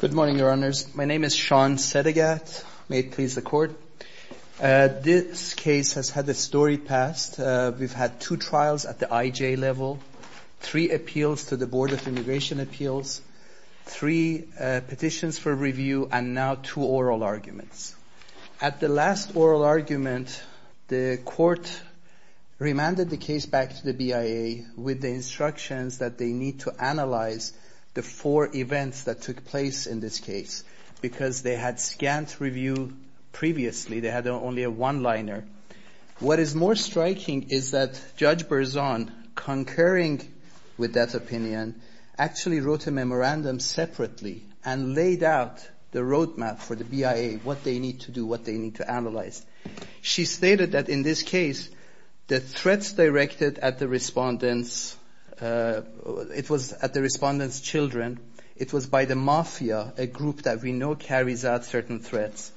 Good morning, Your Honors. My name is Sean Sedegat. May it please the Court. This case has had a story past. We've had two trials at the IJ level, three appeals to the Board of Immigration Appeals, three petitions for review, and now two oral arguments. At the last oral argument, the Court remanded the case back to the BIA with the instructions that they need to analyze the four events that took place in this case, because they had scant review previously. They had only a one-liner. What is more striking is that Judge Berzon, concurring with that opinion, actually wrote a memorandum separately and said what they need to do, what they need to analyze. She stated that in this case, the threats directed at the respondent's children, it was by the Mafia, a group that we know carries out certain threats.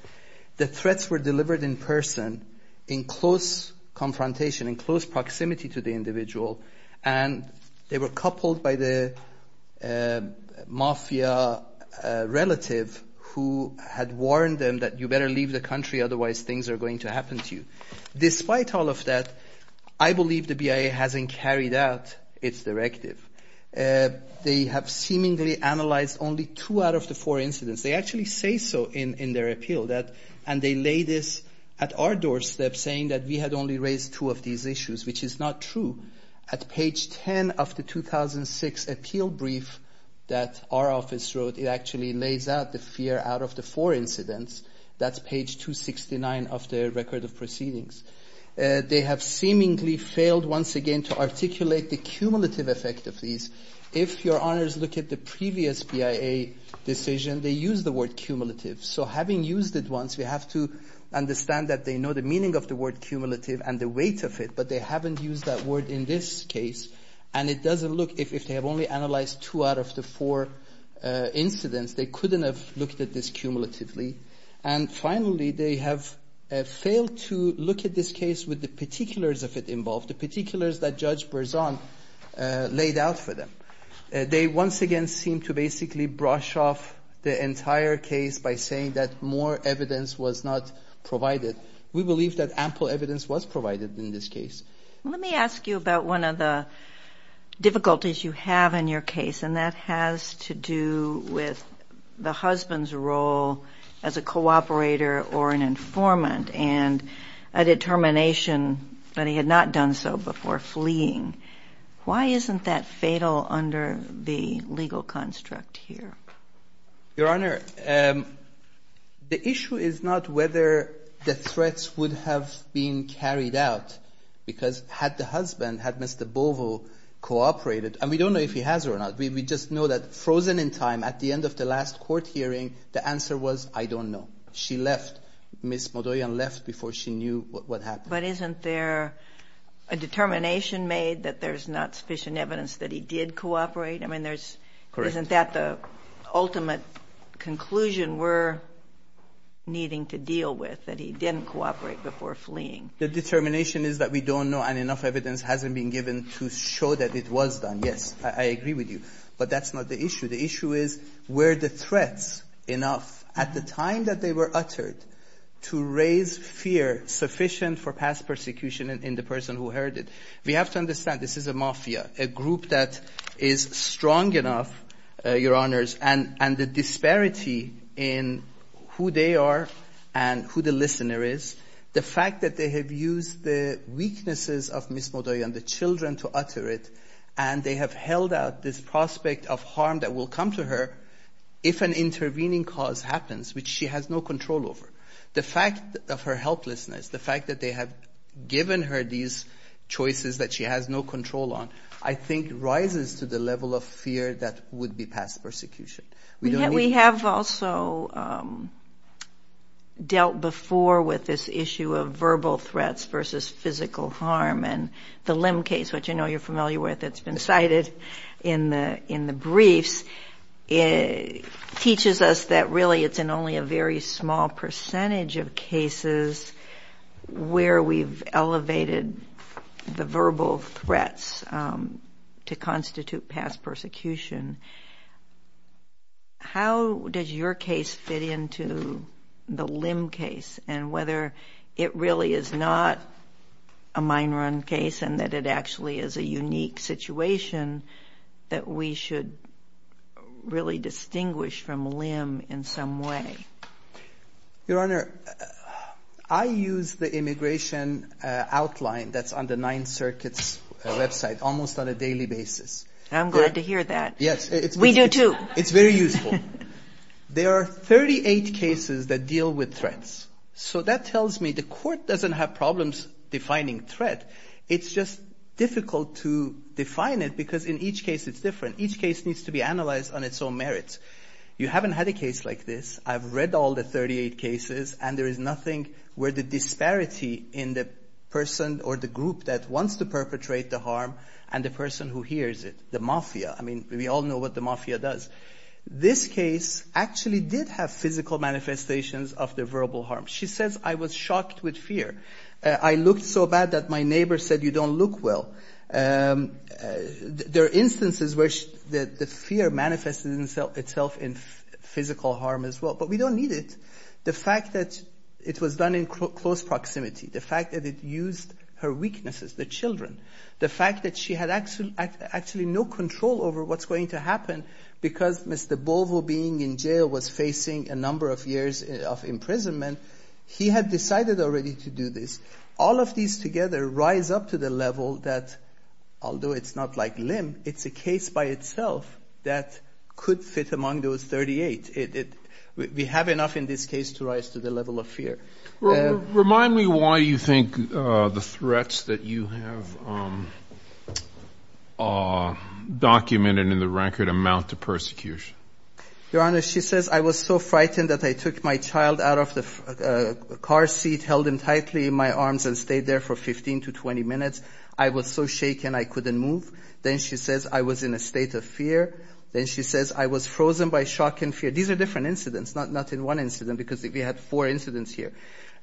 The threats were delivered in person, in close confrontation, in close proximity to the individual, and they were coupled by the Mafia relative who had warned them that you better leave the country, otherwise things are going to happen to you. Despite all of that, I believe the BIA hasn't carried out its directive. They have seemingly analyzed only two out of the four incidents. They actually say so in their appeal, and they lay this at our doorstep, saying that we had only raised two of these issues, which is not true. At page 10 of the 2006 appeal brief that our office wrote, it actually lays out the fear out of the four incidents. That's page 269 of the record of proceedings. They have seemingly failed, once again, to articulate the cumulative effect of these. If your honors look at the previous BIA decision, they used the word cumulative. So having used it once, we have to understand that they know the meaning of the word cumulative and the weight of it, but they haven't used that word in this case, and it doesn't look if they have only analyzed two out of the four incidents, they couldn't have looked at this cumulatively. And finally, they have failed to look at this case with the particulars of it involved, the particulars that Judge Berzon laid out for them. They once again seem to basically brush off the entire case by saying that more evidence was not provided. We believe that ample evidence was provided in this case. Let me ask you about one of the difficulties you have in your case, and that has to do with the husband's role as a cooperator or an informant and a determination that he had not done so before fleeing. Why isn't that fatal under the legal construct here? Your Honor, the issue is not whether the threats would have been carried out, because I think had the husband, had Mr. Bovo cooperated, and we don't know if he has or not, we just know that frozen in time at the end of the last court hearing, the answer was, I don't know. She left. Ms. Modoyan left before she knew what happened. But isn't there a determination made that there's not sufficient evidence that he did cooperate? I mean, isn't that the ultimate conclusion we're needing to deal with, that he didn't cooperate before fleeing? The determination is that we don't know, and enough evidence hasn't been given to show that it was done. Yes, I agree with you. But that's not the issue. The issue is, were the threats enough at the time that they were uttered to raise fear sufficient for past persecution in the person who heard it? We have to understand, this is a mafia, a group that is strong enough, Your Honors, and the disparity in who they are and who the listener is, the fact that they have used the weaknesses of Ms. Modoyan, the children, to utter it, and they have held out this prospect of harm that will come to her if an intervening cause happens, which she has no control over. The fact of her helplessness, the fact that they have given her these choices that she has no control on, I think rises to the level of fear that would be past persecution. We don't need... I agree with this issue of verbal threats versus physical harm, and the Lim case, which I know you're familiar with, it's been cited in the briefs, teaches us that really it's in only a very small percentage of cases where we've elevated the verbal threats to constitute past persecution. How does your case fit into the Lim case, and whether or not you think there, it really is not a mine run case, and that it actually is a unique situation that we should really distinguish from Lim in some way? Your Honor, I use the immigration outline that's on the Ninth Circuit's website almost on a daily basis. I'm glad to hear that. We do too. It's very useful. There are 38 cases that deal with threats, so that tells me the court doesn't have problems defining threat. It's just difficult to define it because in each case it's different. Each case needs to be analyzed on its own merits. You haven't had a case like this. I've read all the 38 cases, and there is nothing where the disparity in the person or the group that wants to perpetrate the harm and the person who hears it, the perpetrator, this case, actually did have physical manifestations of the verbal harm. She says, I was shocked with fear. I looked so bad that my neighbor said, you don't look well. There are instances where the fear manifested itself in physical harm as well, but we don't need it. The fact that it was done in close proximity, the fact that it used her weaknesses, the children, the fact that she had actually no control over what's going to happen because Mr. Bovo being in jail was facing a number of years of imprisonment, he had decided already to do this. All of these together rise up to the level that, although it's not like limb, it's a case by itself that could fit among those 38. We have enough in this case to rise to the level of fear. Remind me why you think the threats that you have documented in the record amount to persecution. Your Honor, she says I was so frightened that I took my child out of the car seat, held him tightly in my arms and stayed there for 15 to 20 minutes. I was so shaken I couldn't move. Then she says I was in a state of fear. Then she says I was frozen by shock and fear. These are different incidents, not in one incident because we had four incidents here.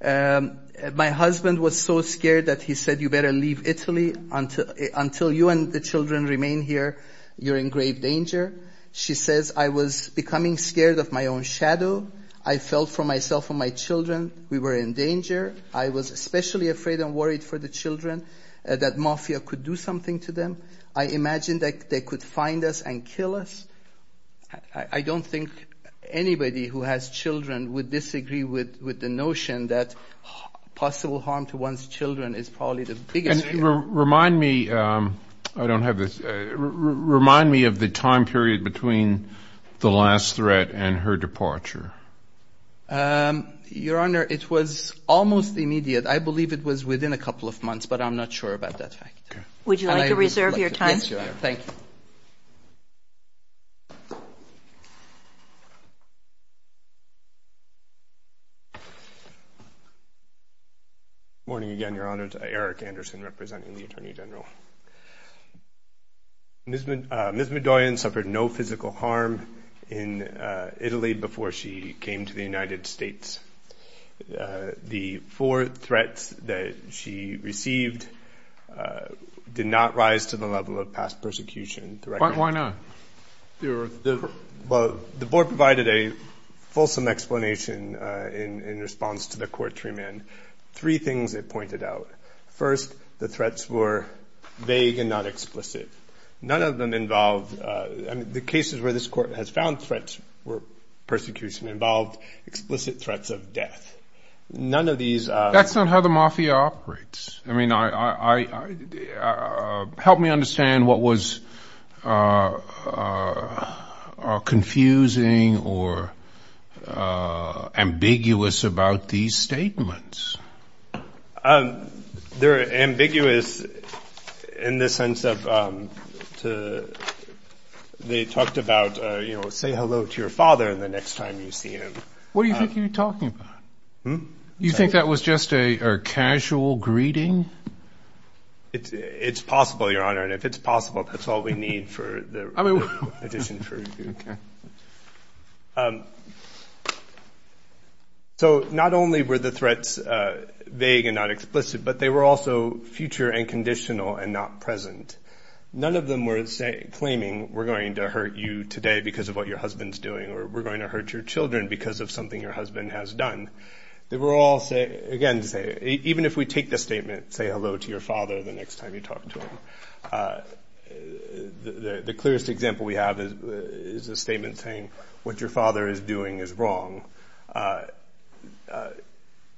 My husband was so scared that he said, you better leave Italy until you and the children remain here. You're in grave danger. She says I was becoming scared of my own shadow. I felt for myself and my children. We were in danger. I was especially afraid and worried for the children that mafia could do something to them. I imagined that they could find us and kill us. I don't think anybody who has children would disagree with the notion that possible harm to one's children is probably the biggest thing. Your Honor, remind me of the time period between the last threat and her departure. Your Honor, it was almost immediate. I believe it was within a couple of months, but I'm not sure about that fact. Would you like to reserve your time? Yes, Your Honor. Thank you. Morning again, Your Honor. It's Eric Anderson representing the Attorney General. Ms. Midoyan suffered no physical harm in Italy before she came to the United States. The four threats that she received did not rise to the level of past persecution. Why not? The board provided a fulsome explanation in response to the court treatment. Three things it pointed out. First, the threats were vague and not explicit. The cases where this court has found threats were persecution involved explicit threats of death. That's not how the mafia operates. Help me understand what was going on. The threats are confusing or ambiguous about these statements. They're ambiguous in the sense of they talked about, you know, say hello to your father the next time you see him. What do you think you're talking about? You think that was just a casual greeting? It's possible, Your Honor. And if it's possible, that's all we need for the addition. So not only were the threats vague and not explicit, but they were also future and conditional and not present. None of them were claiming we're going to hurt you today because of what your husband's doing or we're going to hurt your children because of something your husband has done. They were all, again, even if we take the statement, say hello to your father the next time you talk to him, the clearest example we have is a statement saying what your father is doing is wrong.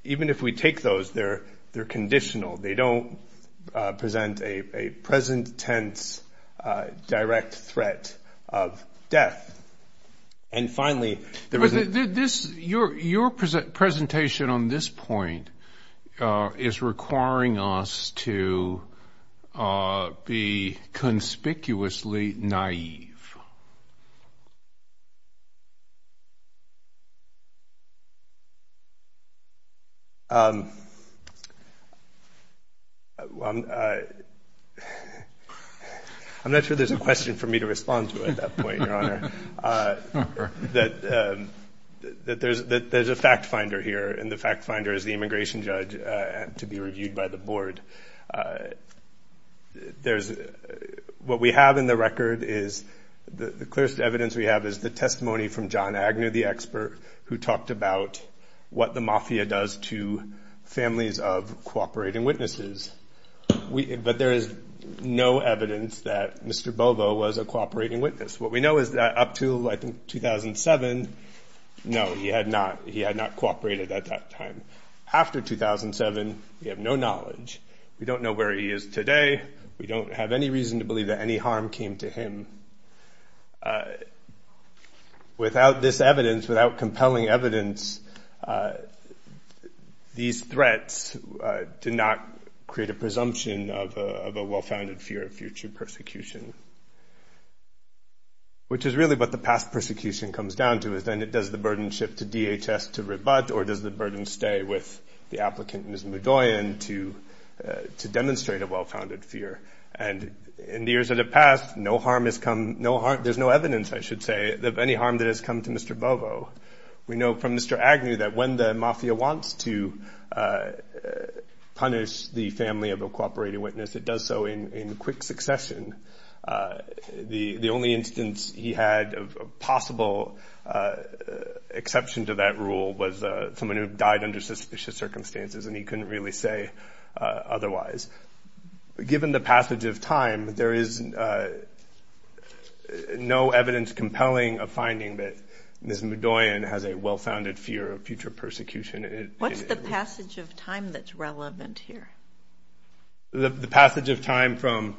Even if we take those, they're conditional. They don't present a present tense direct threat of death. And finally, there was a... Your presentation on this point is requiring us to be conspicuously naive. I'm not sure there's a question for me to respond to at that point, Your Honor. There's a fact finder here and the fact finder is the immigration judge to be reviewed by the board. What we have in the record is the clearest evidence we have is the testimony from John Agnew, the expert, who talked about what the mafia does to families of cooperating witnesses. But there is no evidence that Mr. Bovo was a cooperating witness. What we know is that up to, I think, 2007, no, he had not cooperated at that time. After 2007, we have no knowledge. We don't know where he is today. We don't have any reason to believe that any harm came to him. Without this evidence, without compelling evidence, these threats did not create a presumption of a well-founded fear of future persecution. Which is really what the past persecution comes down to, is then does the burden shift to DHS to rebut or does the burden stay with the applicant, Ms. Mudoian, to demonstrate a well-founded fear? And in the years that have passed, no harm has come... There's no evidence, I should say, of any harm that has come to Mr. Bovo. We know from Mr. Agnew that when the mafia wants to punish the family of a cooperating witness, it does so in quick succession. The only instance he had of possible exception to that rule was someone who had died under suspicious circumstances, and he couldn't really say otherwise. Given the passage of time, there is no evidence compelling a finding that Ms. Mudoian has a well-founded fear of future persecution. What's the passage of time that's relevant here? The passage of time from...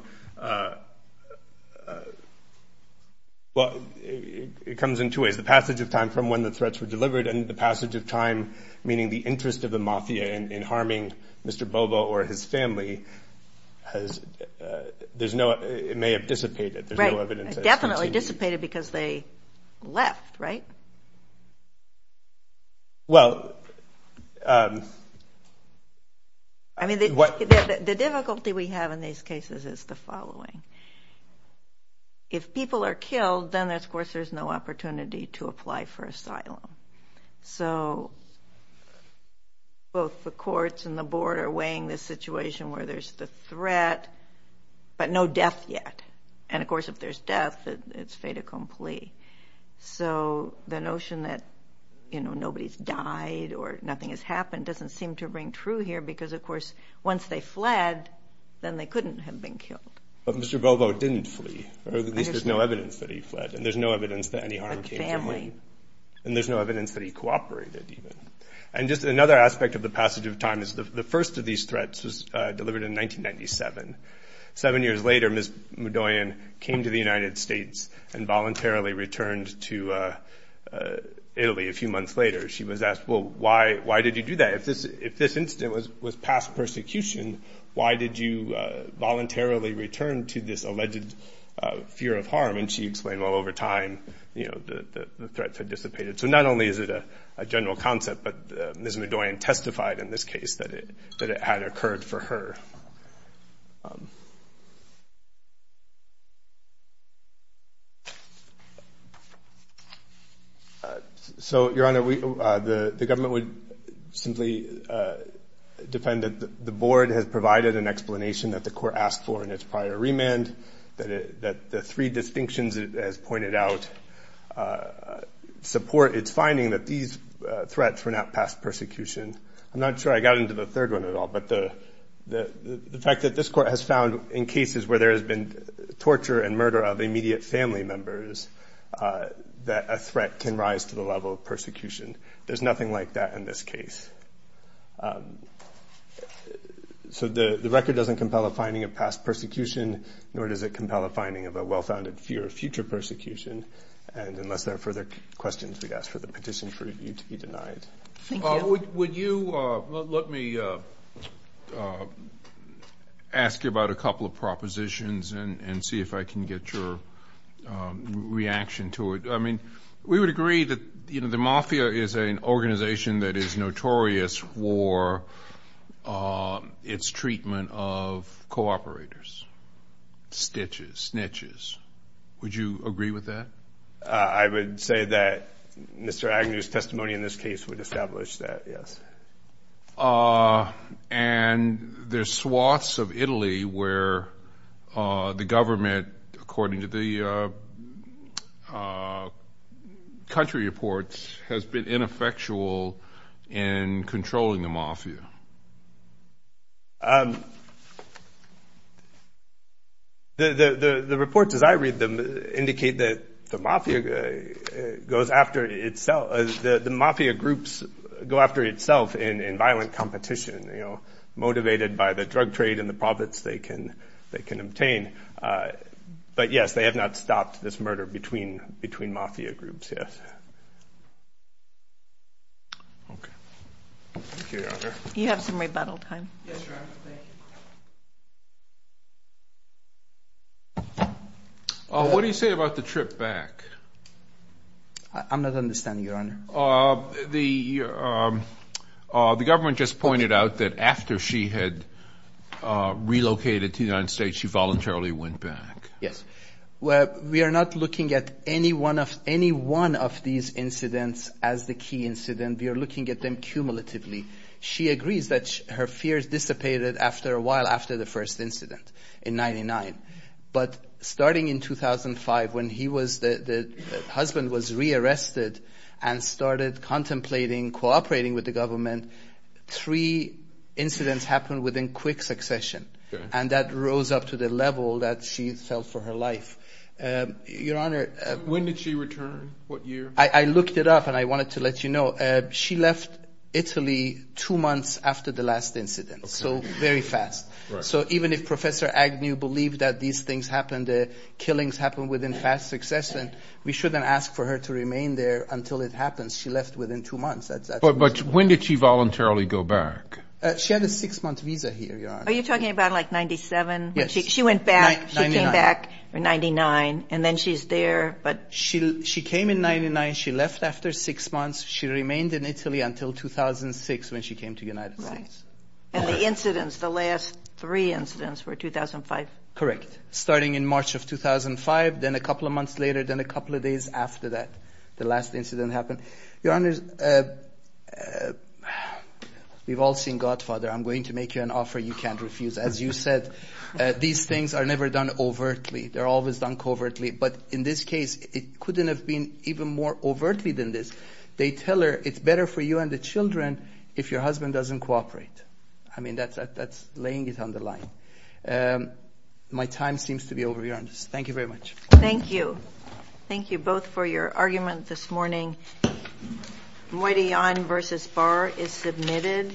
It comes in two ways. The passage of time from when the threats were delivered and the passage of time, meaning the interest of the mafia in harming Mr. Bovo or his family, it may have dissipated. There's no evidence that it's continued. Right. It definitely dissipated because they left, right? Well... I mean, the difficulty we have in these cases is the following. If people are killed, then, of course, there's no opportunity to apply for asylum. So both the courts and the board are weighing the situation where there's the threat, but no death yet. And, of course, if there's death, it's fait accompli. So the notion that nobody's died or nothing has happened doesn't seem to ring true here because, of course, once they fled, then they couldn't have been killed. But Mr. Bovo didn't flee, or at least there's no evidence that he fled, and there's no evidence that any harm came to him. A family. And there's no evidence that he cooperated, even. And just another aspect of the passage of time is the first of these threats was delivered in 1997. Seven years later, Ms. Mudoian came to the United States and voluntarily returned to Italy a few months later. She was asked, well, why did you do that? If this incident was past persecution, why did you voluntarily return to this alleged fear of harm? And she explained, well, over time, you know, the threats had dissipated. So not only is it a general concept, but Ms. Mudoian testified in this case that it had occurred for her. So Your Honor, the government would simply defend that the board has provided an explanation that the court asked for in its prior remand, that the three distinctions it has pointed out support its finding that these threats were not past persecution. I'm not sure I got into the third one at all, but the fact that this court has found in cases where there has been torture and murder of immediate family members that a threat can rise to the level of persecution. There's nothing like that in this case. So the record doesn't compel a finding of past persecution, nor does it compel a finding of a well-founded fear of future persecution. And unless there are further questions, we ask for the petition for review to be denied. Would you let me ask you about a couple of propositions and see if I can get your reaction to it. We would agree that the Mafia is an organization that is notorious for its treatment of co-operators, stitches, snitches. Would you agree with that? I would say that Mr. Agnew's testimony in this case would establish that, yes. And there's swaths of Italy where the government, according to the country reports, has been ineffectual in controlling the Mafia. The reports, as I read them, indicate that the Mafia goes after itself. The Mafia groups go after itself in violent competition, motivated by the drug trade and the profits they can obtain. But yes, they have not stopped this murder between Mafia groups, yes. Okay. Thank you, Your Honor. You have some rebuttal time. Yes, Your Honor. Thank you. What do you say about the trip back? I'm not understanding, Your Honor. The government just pointed out that after she had relocated to the United States, she voluntarily went back. Yes. Well, we are not looking at any one of these incidents as the key incident. We are looking at them cumulatively. She agrees that her fears dissipated after a while, after the first incident in 99. But starting in 2005, when the husband was re-arrested and started contemplating cooperating with the government, three incidents happened within quick succession, and that rose up to the level that she felt for her life. Your Honor- When did she return? What year? I looked it up, and I wanted to let you know. She left Italy two months after the last incident, so very fast. So even if Professor Agnew believed that these things happened, the killings happened within fast succession, we shouldn't ask for her to remain there until it happens. She left within two months. But when did she voluntarily go back? She had a six-month visa here, Your Honor. Are you talking about, like, 97? Yes. She went back- 99. She came back in 99, and then she's there, but- She came in 99. She left after six months. She remained in Italy until 2006 when she came to the United States. Right. And the incidents, the last three incidents, were 2005? Correct. Starting in March of 2005, then a couple of months later, then a couple of days after that, the last incident happened. Your Honor, we've all seen Godfather. I'm going to make you an offer you can't refuse. As you said, these things are never done overtly. They're always done covertly, but in this case, it couldn't have been even more overtly than this. They tell her, it's better for you and the children if your husband doesn't cooperate. I mean, that's laying it on the line. My time seems to be over, Your Honor. Thank you very much. Thank you. Thank you both for your argument this morning. Moitian v. Barr is submitted.